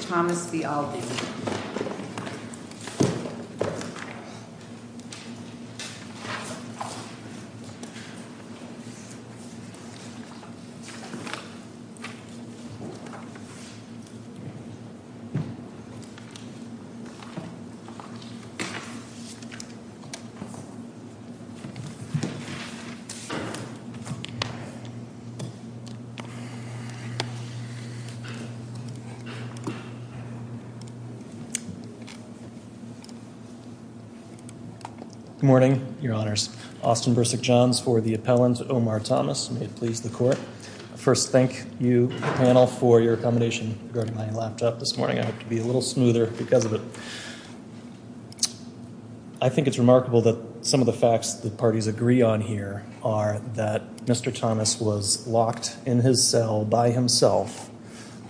Thomas v. Aldi Good morning, your honors. Austin Bursick Johns for the appellant, Omar Thomas. May it please the court. First, thank you, panel, for your accommodation regarding my laptop this morning. I hope to be a little smoother because of it. I think it's remarkable that some of the facts that parties agree on here are that Mr. Thomas was locked in his cell by himself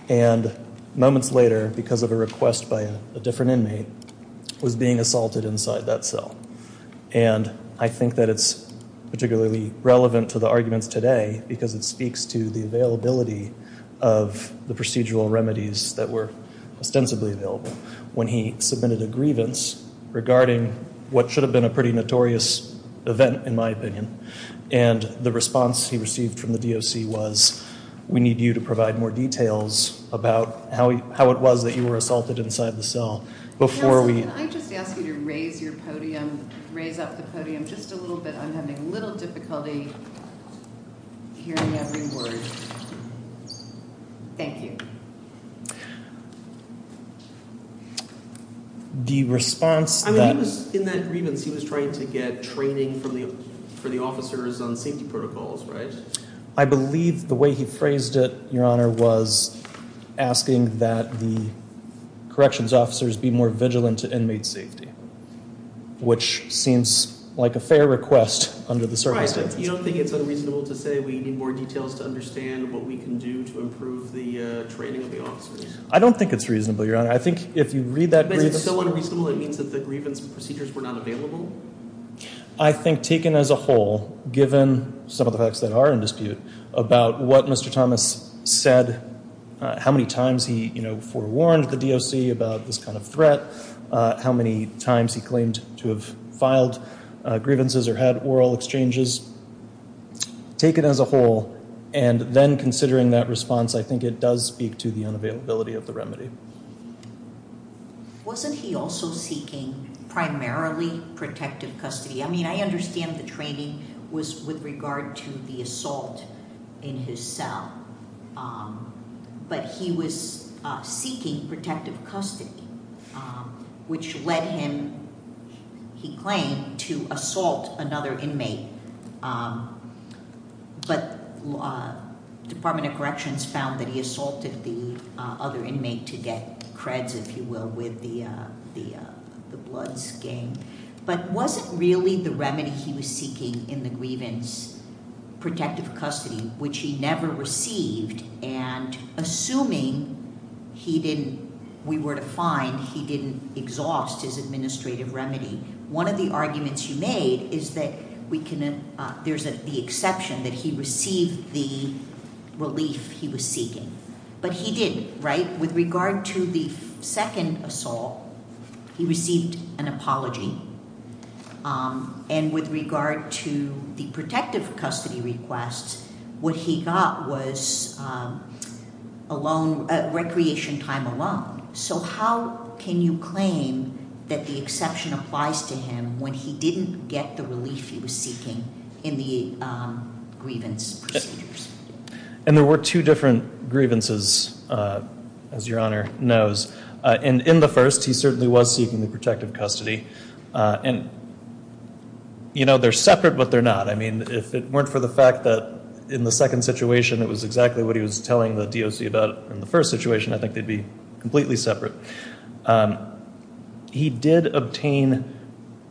and moments later, because of a request by a different inmate, was being assaulted inside that cell. And I think that it's particularly relevant to the arguments today because it speaks to the availability of the procedural remedies that were ostensibly available when he submitted a grievance regarding what should have been a pretty notorious event, in my opinion. And the response he received from the DOC was, we need you to provide more details about how it was that you were assaulted inside the cell. Can I just ask you to raise your podium, raise up the podium just a little bit? I'm having a little difficulty hearing every word. Thank you. I mean, in that grievance he was trying to get training for the officers on safety protocols, right? I believe the way he phrased it, Your Honor, was asking that the corrections officers be more vigilant to inmate safety, which seems like a fair request under the service standards. Right, but you don't think it's unreasonable to say we need more details to understand what we can do to improve the training of the officers? I don't think it's reasonable, Your Honor. I think if you read that grievance… But if it's so unreasonable, it means that the grievance procedures were not available? I think taken as a whole, given some of the facts that are in dispute about what Mr. Thomas said, how many times he forewarned the DOC about this kind of threat, how many times he claimed to have filed grievances or had oral exchanges, taken as a whole, and then considering that response, I think it does speak to the unavailability of the remedy. Wasn't he also seeking primarily protective custody? I mean, I understand the training was with regard to the assault in his cell, but he was seeking protective custody, which led him, he claimed, to assault another inmate. But the Department of Corrections found that he assaulted the other inmate to get creds, if you will, with the bloods game. But was it really the remedy he was seeking in the grievance protective custody, which he never received, and assuming we were to find he didn't exhaust his administrative remedy? One of the arguments you made is that there's the exception that he received the relief he was seeking. But he didn't, right? With regard to the second assault, he received an apology, and with regard to the protective custody request, what he got was recreation time alone. So how can you claim that the exception applies to him when he didn't get the relief he was seeking in the grievance procedures? And there were two different grievances, as Your Honor knows. And in the first, he certainly was seeking the protective custody. And, you know, they're separate, but they're not. I mean, if it weren't for the fact that in the second situation it was exactly what he was telling the DOC about in the first situation, I think they'd be completely separate. He did obtain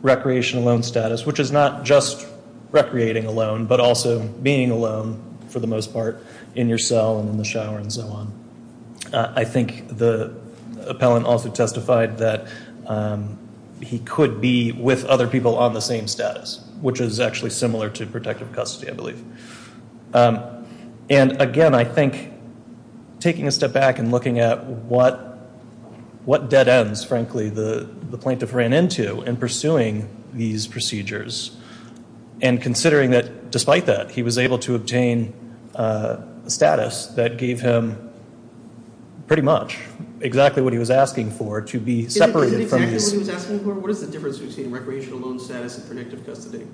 recreation alone status, which is not just recreating alone, but also being alone for the most part in your cell and in the shower and so on. I think the appellant also testified that he could be with other people on the same status, which is actually similar to protective custody, I believe. And again, I think taking a step back and looking at what dead ends, frankly, the plaintiff ran into in pursuing these procedures and considering that despite that, he was able to obtain status that gave him pretty much exactly what he was asking for to be separated from his- Is it exactly what he was asking for? What is the difference between recreational loan status and protective custody?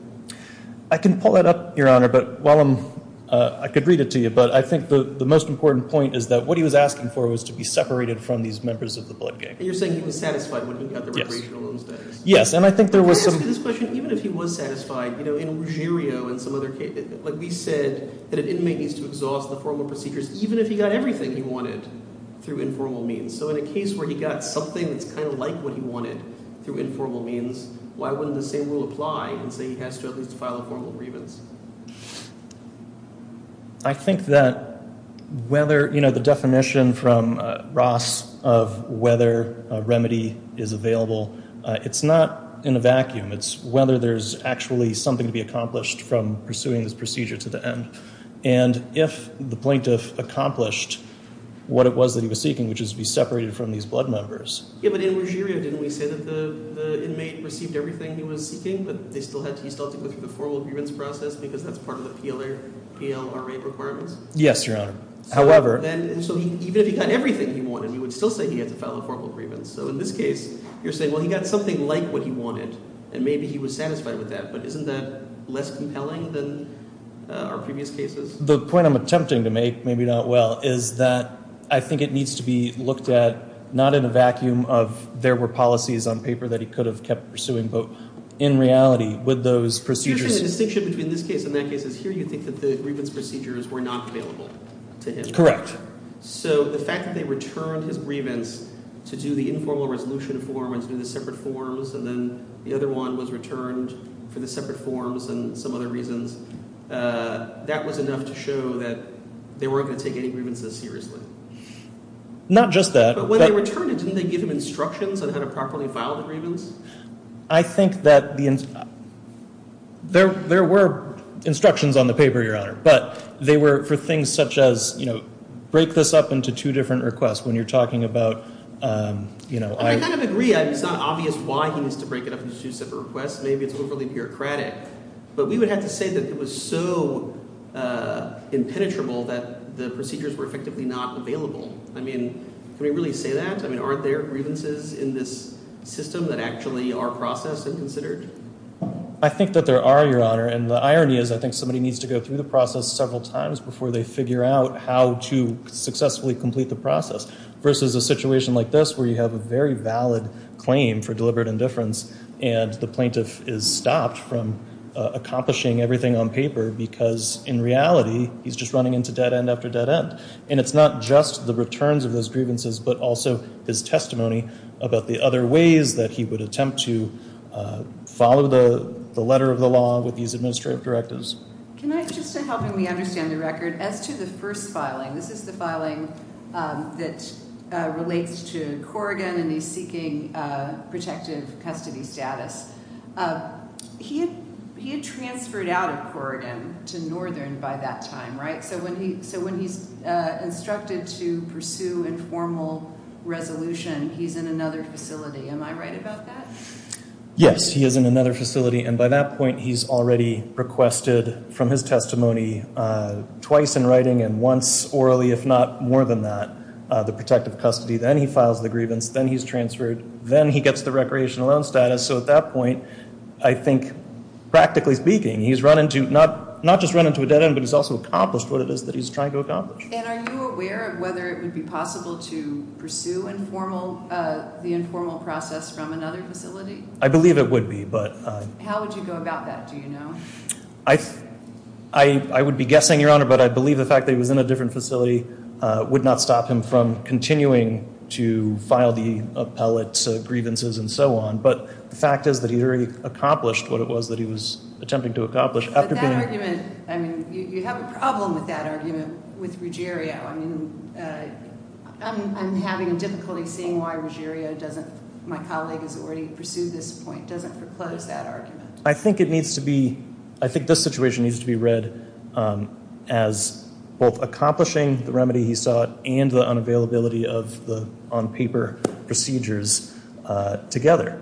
I can pull that up, Your Honor, but while I'm – I could read it to you, but I think the most important point is that what he was asking for was to be separated from these members of the blood gang. And you're saying he was satisfied when he got the recreational loan status? Yes. Can I ask you this question? Even if he was satisfied, you know, in Ruggiero and some other cases, like we said that an inmate needs to exhaust the formal procedures even if he got everything he wanted through informal means. So in a case where he got something that's kind of like what he wanted through informal means, why wouldn't the same rule apply and say he has to at least file a formal grievance? I think that whether – you know, the definition from Ross of whether a remedy is available, it's not in a vacuum. It's whether there's actually something to be accomplished from pursuing this procedure to the end. And if the plaintiff accomplished what it was that he was seeking, which is to be separated from these blood members- Yeah, but in Ruggiero, didn't we say that the inmate received everything he was seeking, but he still had to go through the formal grievance process because that's part of the PLRA requirements? Yes, Your Honor. However- And so even if he got everything he wanted, he would still say he had to file a formal grievance. So in this case, you're saying, well, he got something like what he wanted, and maybe he was satisfied with that. But isn't that less compelling than our previous cases? The point I'm attempting to make, maybe not well, is that I think it needs to be looked at not in a vacuum of there were policies on paper that he could have kept pursuing, but in reality with those procedures- You're saying the distinction between this case and that case is here you think that the grievance procedures were not available to him. Correct. So the fact that they returned his grievance to do the informal resolution form and to do the separate forms, and then the other one was returned for the separate forms and some other reasons, that was enough to show that they weren't going to take any grievances seriously? Not just that- But when they returned it, didn't they give him instructions on how to properly file the grievance? I think that there were instructions on the paper, Your Honor. But they were for things such as break this up into two different requests. When you're talking about- I kind of agree. It's not obvious why he needs to break it up into two separate requests. Maybe it's overly bureaucratic. But we would have to say that it was so impenetrable that the procedures were effectively not available. I mean, can we really say that? I mean, aren't there grievances in this system that actually are processed and considered? I think that there are, Your Honor. And the irony is I think somebody needs to go through the process several times before they figure out how to successfully complete the process. Versus a situation like this where you have a very valid claim for deliberate indifference and the plaintiff is stopped from accomplishing everything on paper because, in reality, he's just running into dead end after dead end. And it's not just the returns of those grievances, but also his testimony about the other ways that he would attempt to follow the letter of the law with these administrative directives. Can I, just in helping me understand the record, as to the first filing, this is the filing that relates to Corrigan and his seeking protective custody status. He had transferred out of Corrigan to Northern by that time, right? So when he's instructed to pursue informal resolution, he's in another facility. Am I right about that? Yes, he is in another facility. And by that point, he's already requested from his testimony twice in writing and once orally, if not more than that, the protective custody. Then he files the grievance. Then he's transferred. Then he gets the recreational loan status. So at that point, I think, practically speaking, he's not just run into a dead end, but he's also accomplished what it is that he's trying to accomplish. And are you aware of whether it would be possible to pursue the informal process from another facility? I believe it would be. How would you go about that, do you know? I would be guessing, Your Honor, but I believe the fact that he was in a different facility would not stop him from continuing to file the appellate grievances and so on. But the fact is that he already accomplished what it was that he was attempting to accomplish. But that argument, I mean, you have a problem with that argument with Ruggiero. I mean, I'm having difficulty seeing why Ruggiero doesn't, my colleague has already pursued this point, doesn't foreclose that argument. I think it needs to be, I think this situation needs to be read as both accomplishing the remedy he sought and the unavailability of the on-paper procedures together.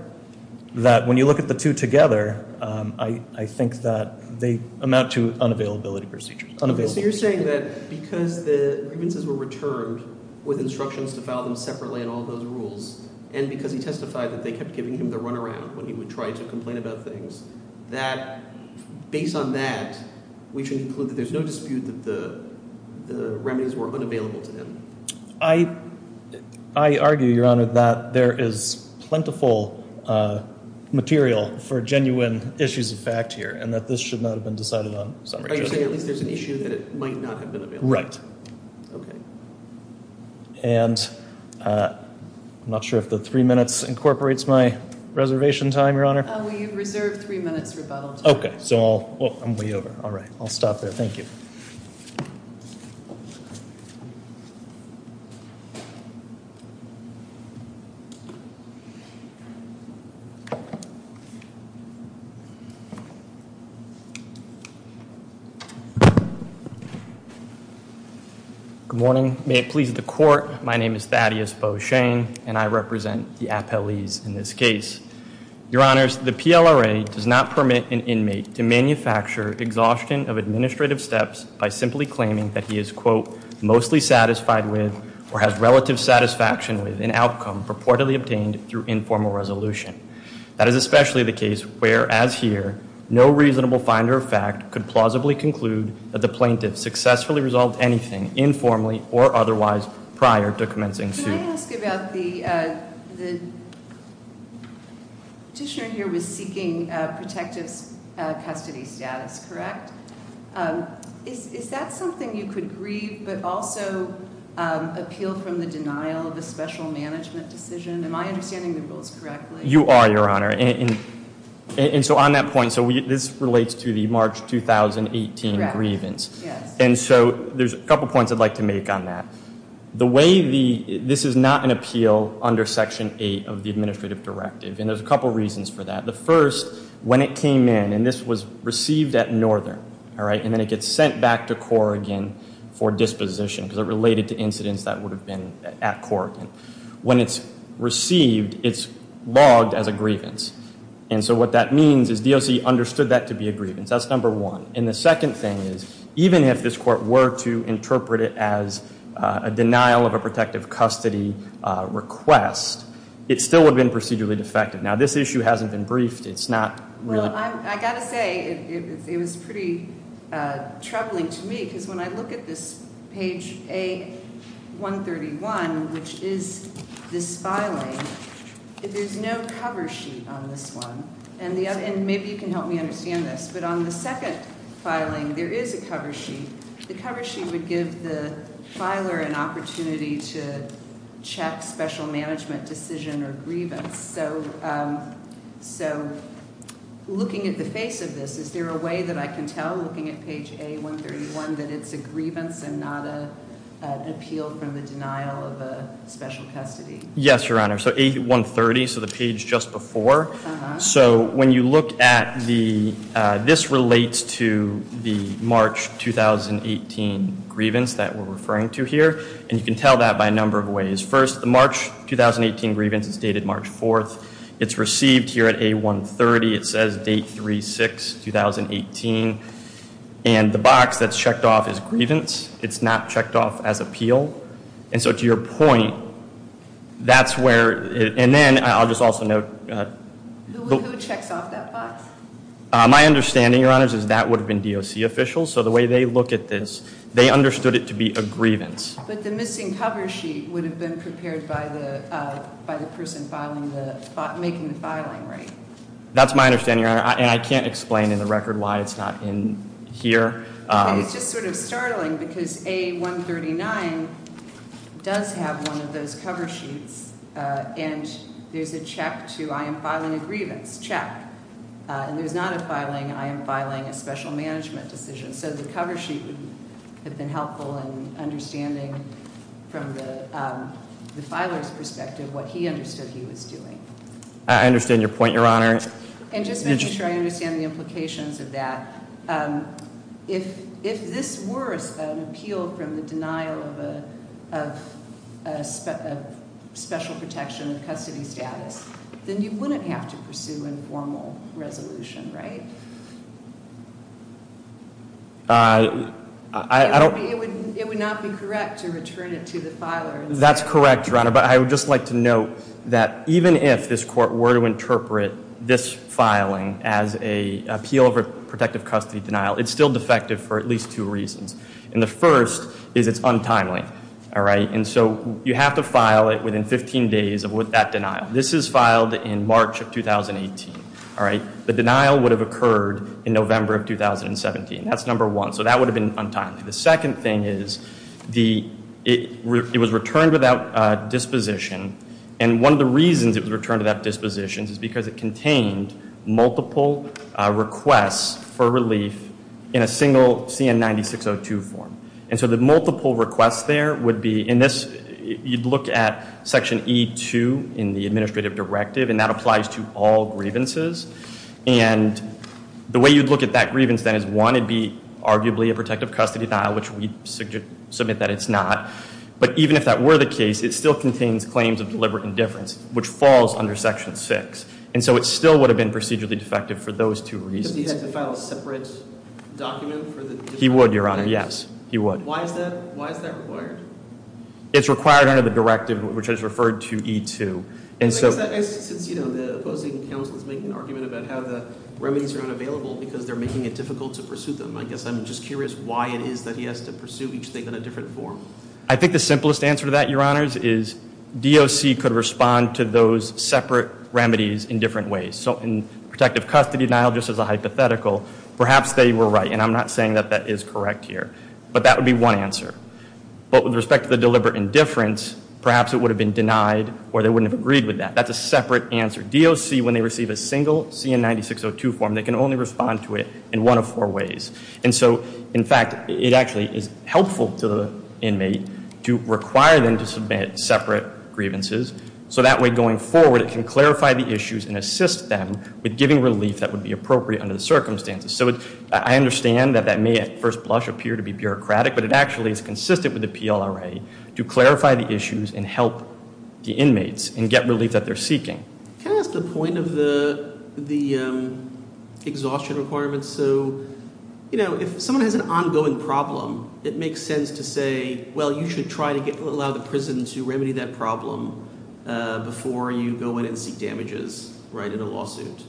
That when you look at the two together, I think that they amount to unavailability procedures. So you're saying that because the grievances were returned with instructions to file them separately and all those rules, and because he testified that they kept giving him the runaround when he would try to complain about things, that based on that, we can conclude that there's no dispute that the remedies were unavailable to him. I argue, Your Honor, that there is plentiful material for genuine issues of fact here and that this should not have been decided on. Are you saying at least there's an issue that it might not have been available? Right. Okay. And I'm not sure if the three minutes incorporates my reservation time, Your Honor. We reserve three minutes rebuttal time. Okay. So I'll, I'm way over. All right. I'll stop there. Thank you. Good morning. May it please the court. My name is Thaddeus Beauchene and I represent the appellees in this case. Your Honors, the PLRA does not permit an inmate to manufacture exhaustion of administrative steps by simply claiming that he is, quote, mostly satisfied with or has relative satisfaction with an outcome purportedly obtained through informal resolution. That is especially the case where, as here, no reasonable finder of fact could plausibly conclude that the plaintiff successfully resolved anything informally or otherwise prior to commencing suit. Can I ask about the petitioner here was seeking protective custody status, correct? Is that something you could grieve but also appeal from the denial of the special management decision? Am I understanding the rules correctly? You are, Your Honor. And so on that point, so this relates to the March 2018 grievance. And so there's a couple points I'd like to make on that. The way the, this is not an appeal under Section 8 of the administrative directive. And there's a couple reasons for that. The first, when it came in, and this was received at Northern, all right, and then it gets sent back to Corrigan for disposition because it related to incidents that would have been at Corrigan. When it's received, it's logged as a grievance. And so what that means is DOC understood that to be a grievance. That's number one. And the second thing is, even if this court were to interpret it as a denial of a protective custody request, it still would have been procedurally defective. Now, this issue hasn't been briefed. It's not really. It was pretty troubling to me because when I look at this page A131, which is this filing, there's no cover sheet on this one. And maybe you can help me understand this. But on the second filing, there is a cover sheet. The cover sheet would give the filer an opportunity to check special management decision or grievance. So looking at the face of this, is there a way that I can tell, looking at page A131, that it's a grievance and not an appeal from the denial of a special custody? Yes, Your Honor. So A130, so the page just before. So when you look at the, this relates to the March 2018 grievance that we're referring to here. And you can tell that by a number of ways. First, the March 2018 grievance is dated March 4th. It's received here at A130. It says date 3-6-2018. And the box that's checked off is grievance. It's not checked off as appeal. And so to your point, that's where, and then I'll just also note. Who checks off that box? My understanding, Your Honor, is that would have been DOC officials. So the way they look at this, they understood it to be a grievance. But the missing cover sheet would have been prepared by the person making the filing, right? That's my understanding, Your Honor. And I can't explain in the record why it's not in here. It's just sort of startling because A139 does have one of those cover sheets. And there's a check to I am filing a grievance check. And there's not a filing I am filing a special management decision. So the cover sheet would have been helpful in understanding from the filer's perspective what he understood he was doing. I understand your point, Your Honor. And just making sure I understand the implications of that. If this were an appeal from the denial of special protection of custody status, then you wouldn't have to pursue informal resolution, right? It would not be correct to return it to the filer. That's correct, Your Honor. But I would just like to note that even if this court were to interpret this filing as an appeal over protective custody denial, it's still defective for at least two reasons. And the first is it's untimely, all right? And so you have to file it within 15 days of that denial. This is filed in March of 2018, all right? The denial would have occurred in November of 2017. That's number one. So that would have been untimely. The second thing is it was returned without disposition. And one of the reasons it was returned without disposition is because it contained multiple requests for relief in a single CN-9602 form. And so the multiple requests there would be in this, you'd look at section E-2 in the administrative directive. And that applies to all grievances. And the way you'd look at that grievance, then, is one, it'd be arguably a protective custody denial, which we submit that it's not. But even if that were the case, it still contains claims of deliberate indifference, which falls under section six. And so it still would have been procedurally defective for those two reasons. But he had to file a separate document for the different cases? He would, Your Honor, yes. He would. Why is that required? It's required under the directive, which is referred to E-2. Since the opposing counsel is making an argument about how the remedies are unavailable because they're making it difficult to pursue them, I guess I'm just curious why it is that he has to pursue each thing in a different form. I think the simplest answer to that, Your Honors, is DOC could respond to those separate remedies in different ways. So in protective custody denial, just as a hypothetical, perhaps they were right. And I'm not saying that that is correct here. But that would be one answer. But with respect to the deliberate indifference, perhaps it would have been denied or they wouldn't have agreed with that. That's a separate answer. DOC, when they receive a single CN-9602 form, they can only respond to it in one of four ways. And so, in fact, it actually is helpful to the inmate to require them to submit separate grievances. So that way, going forward, it can clarify the issues and assist them with giving relief that would be appropriate under the circumstances. So I understand that that may at first blush appear to be bureaucratic. But it actually is consistent with the PLRA to clarify the issues and help the inmates and get relief that they're seeking. Can I ask the point of the exhaustion requirements? So if someone has an ongoing problem, it makes sense to say, well, you should try to allow the prison to remedy that problem before you go in and seek damages in a lawsuit.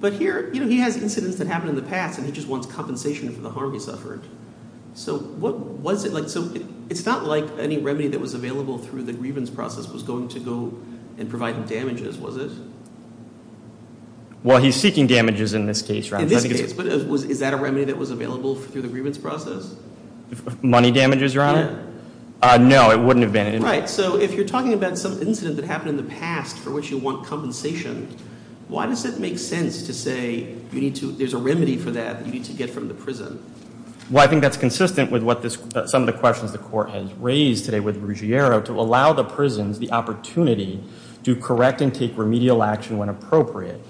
But here, he has incidents that happened in the past and he just wants compensation for the harm he suffered. So it's not like any remedy that was available through the grievance process was going to go and provide him damages, was it? Well, he's seeking damages in this case, right? In this case. But is that a remedy that was available through the grievance process? Money damages, Your Honor? No, it wouldn't have been. Right, so if you're talking about some incident that happened in the past for which you want compensation, why does it make sense to say there's a remedy for that you need to get from the prison? Well, I think that's consistent with some of the questions the court has raised today with Ruggiero to allow the prisons the opportunity to correct and take remedial action when appropriate.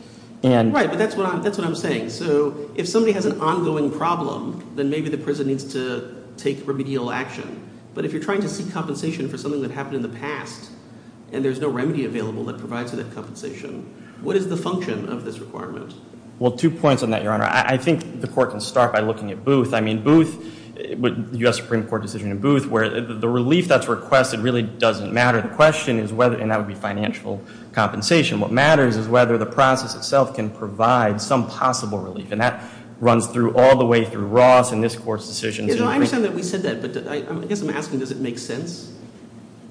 Right, but that's what I'm saying. So if somebody has an ongoing problem, then maybe the prison needs to take remedial action. But if you're trying to seek compensation for something that happened in the past and there's no remedy available that provides for that compensation, what is the function of this requirement? Well, two points on that, Your Honor. I think the court can start by looking at Booth. I mean, Booth, the U.S. Supreme Court decision in Booth, where the relief that's requested really doesn't matter. The question is whether, and that would be financial compensation. What matters is whether the process itself can provide some possible relief. And that runs through all the way through Ross and this Court's decisions. I understand that we said that, but I guess I'm asking, does it make sense?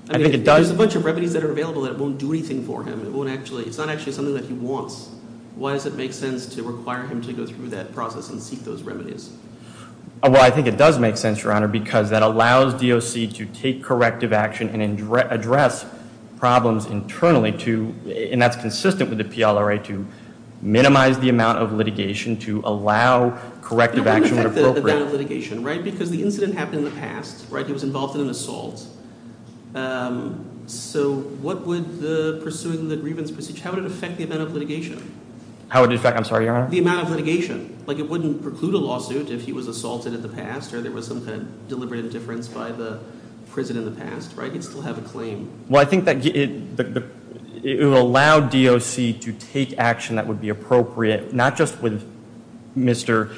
I think it does. There's a bunch of remedies that are available that won't do anything for him. It's not actually something that he wants. Why does it make sense to require him to go through that process and seek those remedies? Well, I think it does make sense, Your Honor, because that allows DOC to take corrective action and address problems internally, and that's consistent with the PLRA, to minimize the amount of litigation to allow corrective action when appropriate. The amount of litigation, right? Because the incident happened in the past, right? He was involved in an assault. So what would the pursuing the grievance procedure, how would it affect the amount of litigation? How would it affect, I'm sorry, Your Honor? The amount of litigation. Like, it wouldn't preclude a lawsuit if he was assaulted in the past or there was some kind of deliberate indifference by the prison in the past, right? He'd still have a claim. Well, I think that it would allow DOC to take action that would be appropriate, not just with Mr.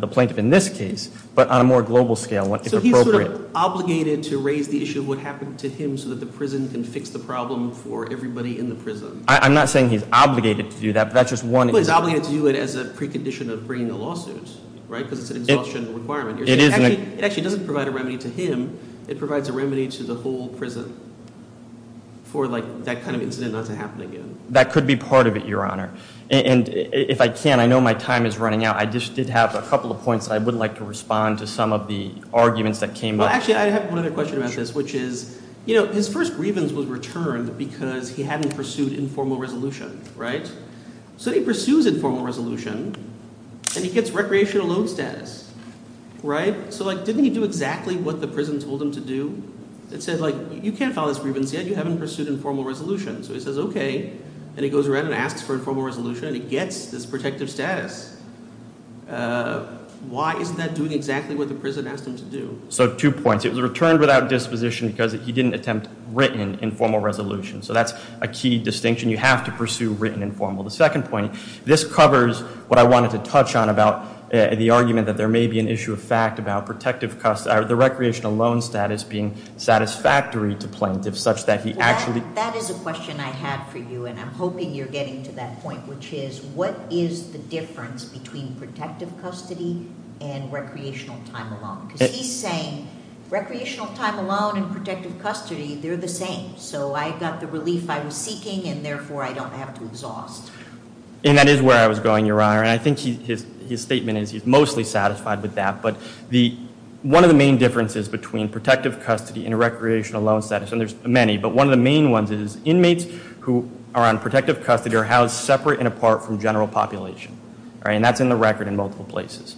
the Plaintiff in this case, but on a more global scale if appropriate. So he's sort of obligated to raise the issue of what happened to him so that the prison can fix the problem for everybody in the prison? I'm not saying he's obligated to do that, but that's just one example. Well, he's obligated to do it as a precondition of bringing the lawsuit, right, because it's an exhaustion requirement. It actually doesn't provide a remedy to him. It provides a remedy to the whole prison for that kind of incident not to happen again. That could be part of it, Your Honor. And if I can, I know my time is running out. I just did have a couple of points I would like to respond to some of the arguments that came up. Well, actually, I have one other question about this, which is his first grievance was returned because he hadn't pursued informal resolution, right? So he pursues informal resolution, and he gets recreational loan status, right? So, like, didn't he do exactly what the prison told him to do? It said, like, you can't file this grievance yet. You haven't pursued informal resolution. So he says, okay, and he goes around and asks for informal resolution, and he gets this protective status. Why isn't that doing exactly what the prison asked him to do? So two points. It was returned without disposition because he didn't attempt written informal resolution. So that's a key distinction. You have to pursue written informal. The second point, this covers what I wanted to touch on about the argument that there may be an issue of fact about the recreational loan status being satisfactory to plaintiff such that he actually- That is a question I had for you, and I'm hoping you're getting to that point, which is what is the difference between protective custody and recreational time alone? Because he's saying recreational time alone and protective custody, they're the same. So I got the relief I was seeking, and therefore, I don't have to exhaust. And that is where I was going, Your Honor. And I think his statement is he's mostly satisfied with that. But one of the main differences between protective custody and recreational loan status, and there's many, but one of the main ones is inmates who are on protective custody are housed separate and apart from general population. And that's in the record in multiple places.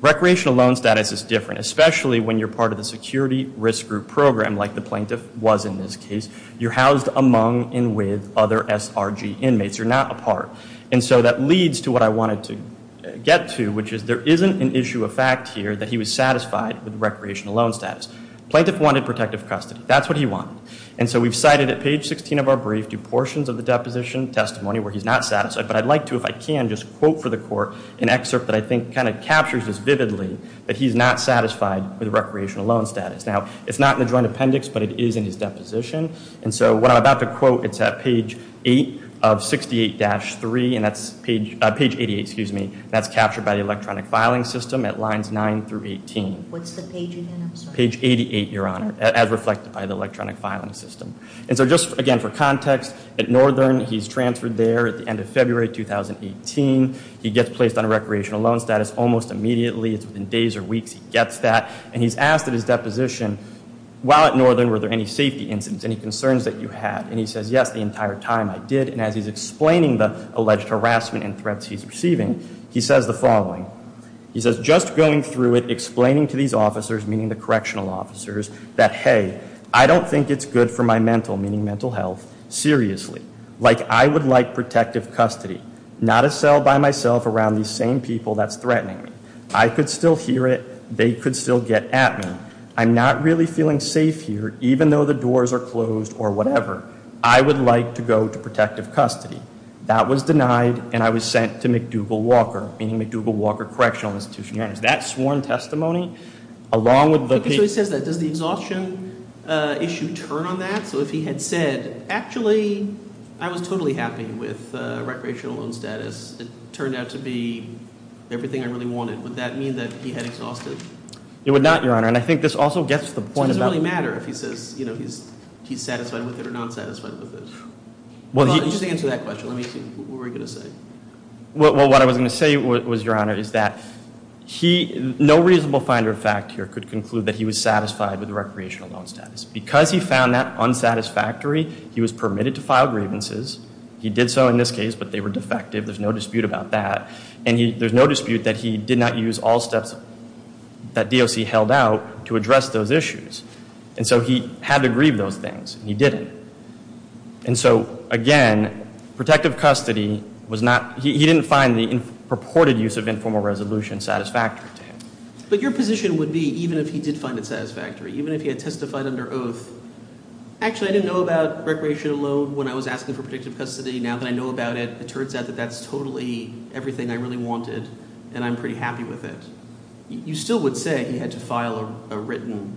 Recreational loan status is different, especially when you're part of the security risk group program like the plaintiff was in this case. You're housed among and with other SRG inmates. You're not apart. And so that leads to what I wanted to get to, which is there isn't an issue of fact here that he was satisfied with recreational loan status. Plaintiff wanted protective custody. That's what he wanted. And so we've cited at page 16 of our brief two portions of the deposition testimony where he's not satisfied. But I'd like to, if I can, just quote for the court an excerpt that I think kind of captures this vividly, that he's not satisfied with recreational loan status. Now, it's not in the joint appendix, but it is in his deposition. And so what I'm about to quote, it's at page 8 of 68-3, and that's page 88, excuse me. That's captured by the electronic filing system at lines 9 through 18. What's the page again? I'm sorry. Page 88, Your Honor, as reflected by the electronic filing system. And so just, again, for context, at Northern, he's transferred there at the end of February 2018. He gets placed on a recreational loan status almost immediately. It's within days or weeks he gets that. And he's asked at his deposition, while at Northern, were there any safety incidents, any concerns that you had? And he says, yes, the entire time I did. And as he's explaining the alleged harassment and threats he's receiving, he says the following. He says, just going through it, explaining to these officers, meaning the correctional officers, that, hey, I don't think it's good for my mental, meaning mental health, seriously. Like, I would like protective custody, not a cell by myself around these same people that's threatening me. I could still hear it. They could still get at me. I'm not really feeling safe here, even though the doors are closed or whatever. I would like to go to protective custody. That was denied, and I was sent to McDougall Walker, meaning McDougall Walker Correctional Institution. That sworn testimony, along with the- So he says that. Does the exhaustion issue turn on that? So if he had said, actually, I was totally happy with recreational loan status. It turned out to be everything I really wanted. Would that mean that he had exhausted? It would not, Your Honor. And I think this also gets to the point about- It doesn't really matter if he says he's satisfied with it or not satisfied with it. Just answer that question. Let me see. What were you going to say? Well, what I was going to say was, Your Honor, is that no reasonable find or fact here could conclude that he was satisfied with recreational loan status. Because he found that unsatisfactory, he was permitted to file grievances. He did so in this case, but they were defective. There's no dispute about that. And there's no dispute that he did not use all steps that DOC held out to address those issues. And so he had to grieve those things, and he didn't. And so, again, protective custody was not- he didn't find the purported use of informal resolution satisfactory to him. But your position would be, even if he did find it satisfactory, even if he had testified under oath, actually, I didn't know about recreational loan when I was asking for protective custody. Now that I know about it, it turns out that that's totally everything I really wanted, and I'm pretty happy with it. You still would say he had to file a written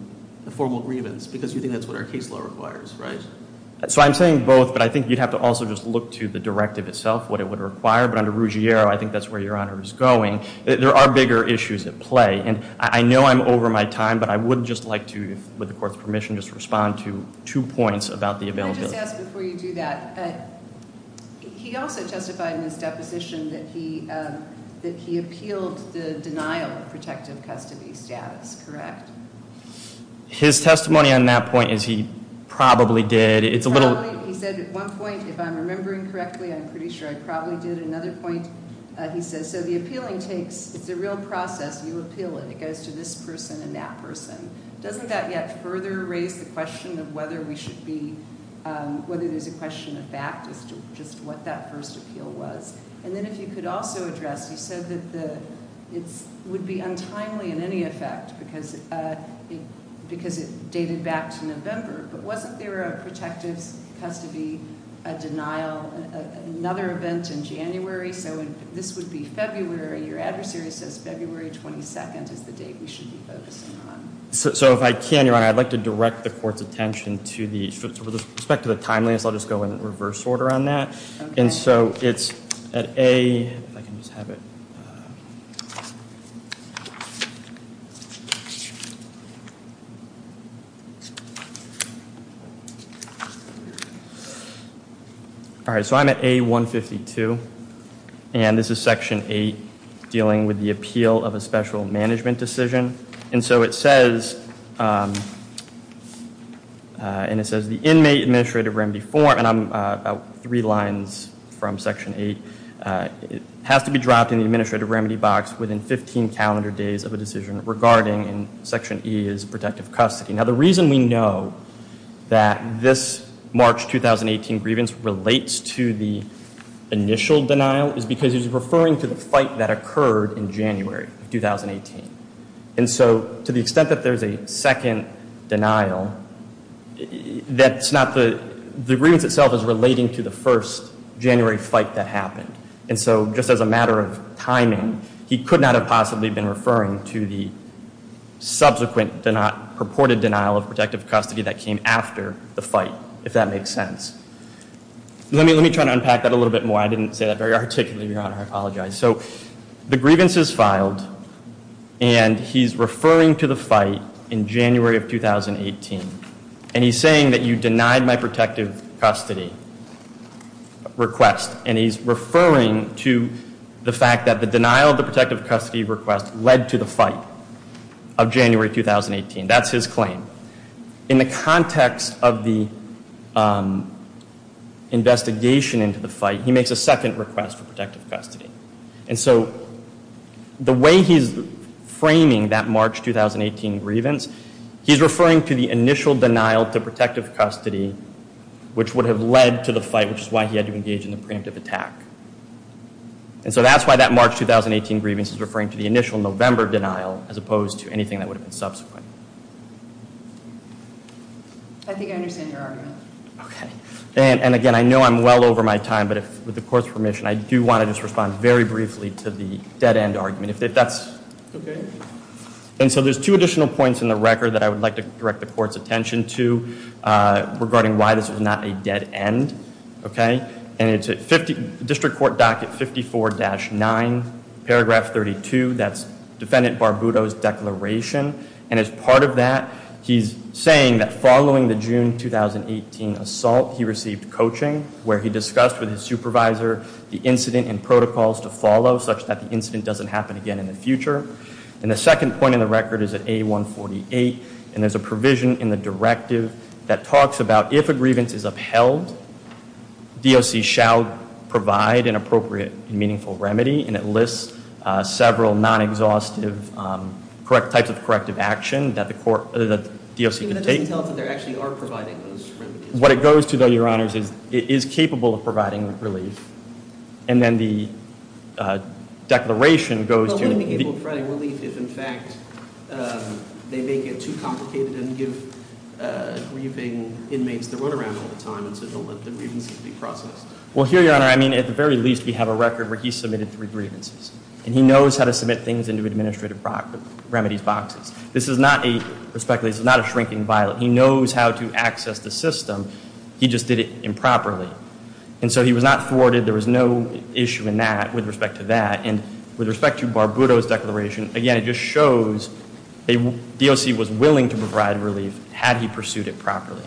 formal grievance, because you think that's what our case law requires, right? So I'm saying both, but I think you'd have to also just look to the directive itself, what it would require. But under Ruggiero, I think that's where Your Honor is going. There are bigger issues at play. And I know I'm over my time, but I would just like to, with the Court's permission, just respond to two points about the availability. Let me just ask before you do that. He also testified in his deposition that he appealed the denial of protective custody status, correct? His testimony on that point is he probably did. It's a little- Probably, he said at one point, if I'm remembering correctly, I'm pretty sure I probably did. At another point, he says, so the appealing takes- it's a real process. You appeal it. It goes to this person and that person. Doesn't that yet further raise the question of whether we should be- whether there's a question of fact as to just what that first appeal was? And then if you could also address, he said that it would be untimely in any effect, because it dated back to November. But wasn't there a protective custody denial at another event in January? So this would be February. Your adversary says February 22nd is the date we should be focusing on. So if I can, Your Honor, I'd like to direct the Court's attention to the- with respect to the timeliness, I'll just go in reverse order on that. And so it's at A- if I can just have it. All right. So I'm at A-152. And this is Section 8 dealing with the appeal of a special management decision. And so it says- and it says the inmate administrative remedy form- and I'm about three lines from Section 8- has to be dropped in the administrative remedy box within 15 calendar days of a decision regarding, and Section E is protective custody. Now the reason we know that this March 2018 grievance relates to the initial denial is because he's referring to the fight that occurred in January of 2018. And so to the extent that there's a second denial, that's not the- the grievance itself is relating to the first January fight that happened. And so just as a matter of timing, he could not have possibly been referring to the subsequent purported denial of protective custody that came after the fight, if that makes sense. Let me try to unpack that a little bit more. I didn't say that very articulately, Your Honor. I apologize. So the grievance is filed, and he's referring to the fight in January of 2018. And he's saying that you denied my protective custody request. And he's referring to the fact that the denial of the protective custody request led to the fight of January 2018. That's his claim. In the context of the investigation into the fight, he makes a second request for protective custody. And so the way he's framing that March 2018 grievance, he's referring to the initial denial to protective custody, which would have led to the fight, which is why he had to engage in the preemptive attack. And so that's why that March 2018 grievance is referring to the initial November denial, as opposed to anything that would have been subsequent. I think I understand your argument. Okay. And again, I know I'm well over my time, but with the court's permission, I do want to just respond very briefly to the dead end argument. If that's okay. And so there's two additional points in the record that I would like to direct the court's attention to regarding why this was not a dead end. Okay. And it's District Court Docket 54-9, paragraph 32. That's Defendant Barbudo's declaration. And as part of that, he's saying that following the June 2018 assault, he received coaching where he discussed with his supervisor the incident and protocols to follow such that the incident doesn't happen again in the future. And the second point in the record is at A148. And there's a provision in the directive that talks about if a grievance is upheld, DOC shall provide an appropriate and meaningful remedy. And it lists several non-exhaustive types of corrective action that the DOC could take. Even though it doesn't tell us that they actually are providing those remedies. What it goes to, though, Your Honors, is it is capable of providing relief. And then the declaration goes to- It is capable of providing relief if, in fact, they make it too complicated and give grieving inmates the run around all the time and so don't let the grievances be processed. Well, here, Your Honor, I mean, at the very least, we have a record where he submitted three grievances. And he knows how to submit things into administrative remedies boxes. This is not a, respectfully, this is not a shrinking violet. He knows how to access the system. He just did it improperly. And so he was not thwarted. There was no issue in that with respect to that. And with respect to Barbuto's declaration, again, it just shows the DOC was willing to provide relief had he pursued it properly.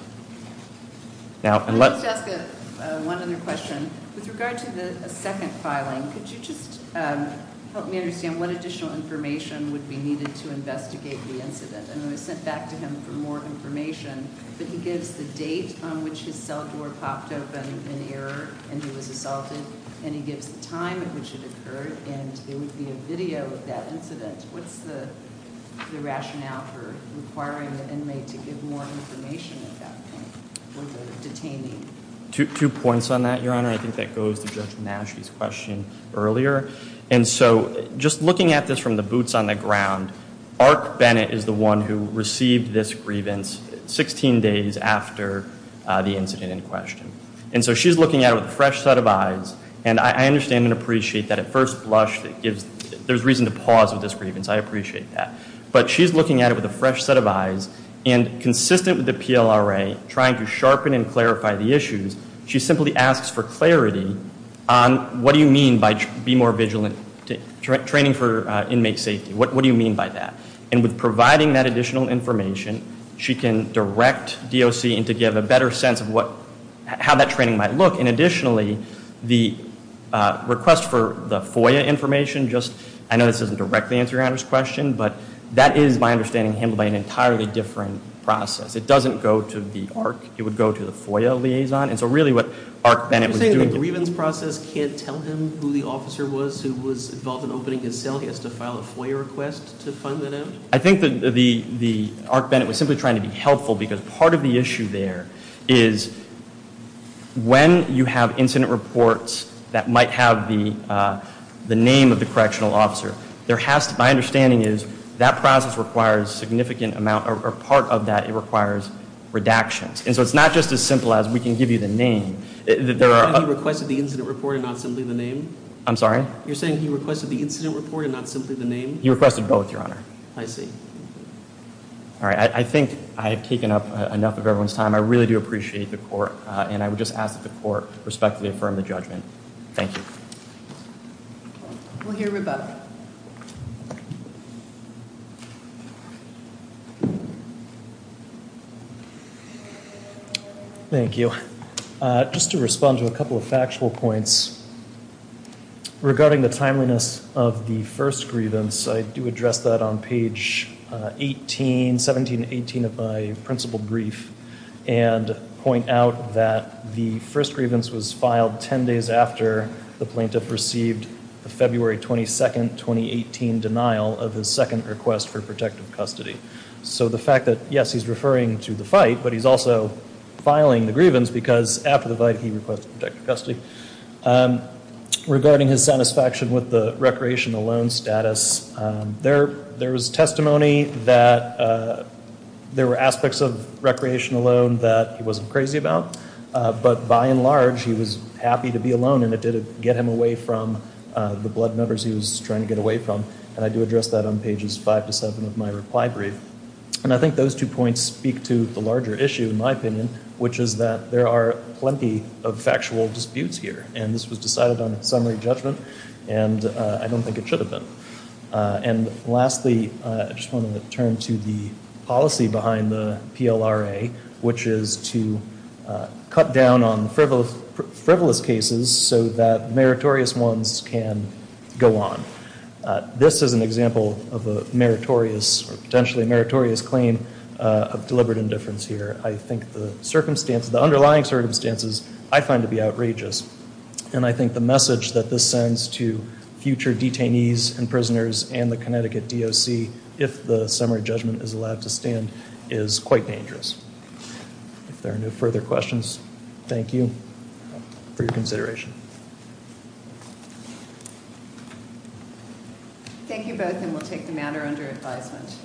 Now- Let me just ask one other question. With regard to the second filing, could you just help me understand what additional information would be needed to investigate the incident? And it was sent back to him for more information. But he gives the date on which his cell door popped open in error and he was assaulted. And he gives the time in which it occurred. And there would be a video of that incident. What's the rationale for requiring the inmate to give more information at that point for the detainee? Two points on that, Your Honor. I think that goes to Judge Nash's question earlier. And so just looking at this from the boots on the ground, Arc Bennett is the one who received this grievance 16 days after the incident in question. And so she's looking at it with a fresh set of eyes. And I understand and appreciate that at first blush there's reason to pause with this grievance. I appreciate that. But she's looking at it with a fresh set of eyes and consistent with the PLRA trying to sharpen and clarify the issues, she simply asks for clarity on what do you mean by be more vigilant, training for inmate safety. What do you mean by that? And with providing that additional information, she can direct DOC to give a better sense of how that training might look. And additionally, the request for the FOIA information just, I know this doesn't directly answer Your Honor's question, but that is my understanding handled by an entirely different process. It doesn't go to the Arc. It would go to the FOIA liaison. And so really what Arc Bennett was doing. The grievance process can't tell him who the officer was who was involved in opening his cell? He has to file a FOIA request to find that out? I think that the Arc Bennett was simply trying to be helpful because part of the issue there is when you have incident reports that might have the name of the correctional officer, there has to, my understanding is, that process requires significant amount or part of that it requires redactions. And so it's not just as simple as we can give you the name. You're saying he requested the incident report and not simply the name? I'm sorry? You're saying he requested the incident report and not simply the name? He requested both, Your Honor. I see. All right. I think I have taken up enough of everyone's time. I really do appreciate the court. And I would just ask that the court respectfully affirm the judgment. Thank you. We'll hear Rebecca. Thank you. Just to respond to a couple of factual points. Regarding the timeliness of the first grievance, I do address that on page 17 and 18 of my principled brief and point out that the first grievance was filed ten days after the plaintiff received the February 22, 2018, denial of his second request for protective custody. So the fact that, yes, he's referring to the fight, but he's also filing the grievance because after the fight, he requested protective custody. Regarding his satisfaction with the recreation alone status, there was testimony that there were aspects of recreation alone that he wasn't crazy about. But by and large, he was happy to be alone, and it did get him away from the blood numbers he was trying to get away from. And I do address that on pages 5 to 7 of my reply brief. And I think those two points speak to the larger issue, in my opinion, which is that there are plenty of factual disputes here. And this was decided on summary judgment, and I don't think it should have been. And lastly, I just wanted to turn to the policy behind the PLRA, which is to cut down on frivolous cases so that meritorious ones can go on. This is an example of a potentially meritorious claim of deliberate indifference here. I think the underlying circumstances I find to be outrageous. And I think the message that this sends to future detainees and prisoners and the Connecticut DOC, if the summary judgment is allowed to stand, is quite dangerous. If there are no further questions, thank you for your consideration. Thank you both, and we'll take the matter under advisement.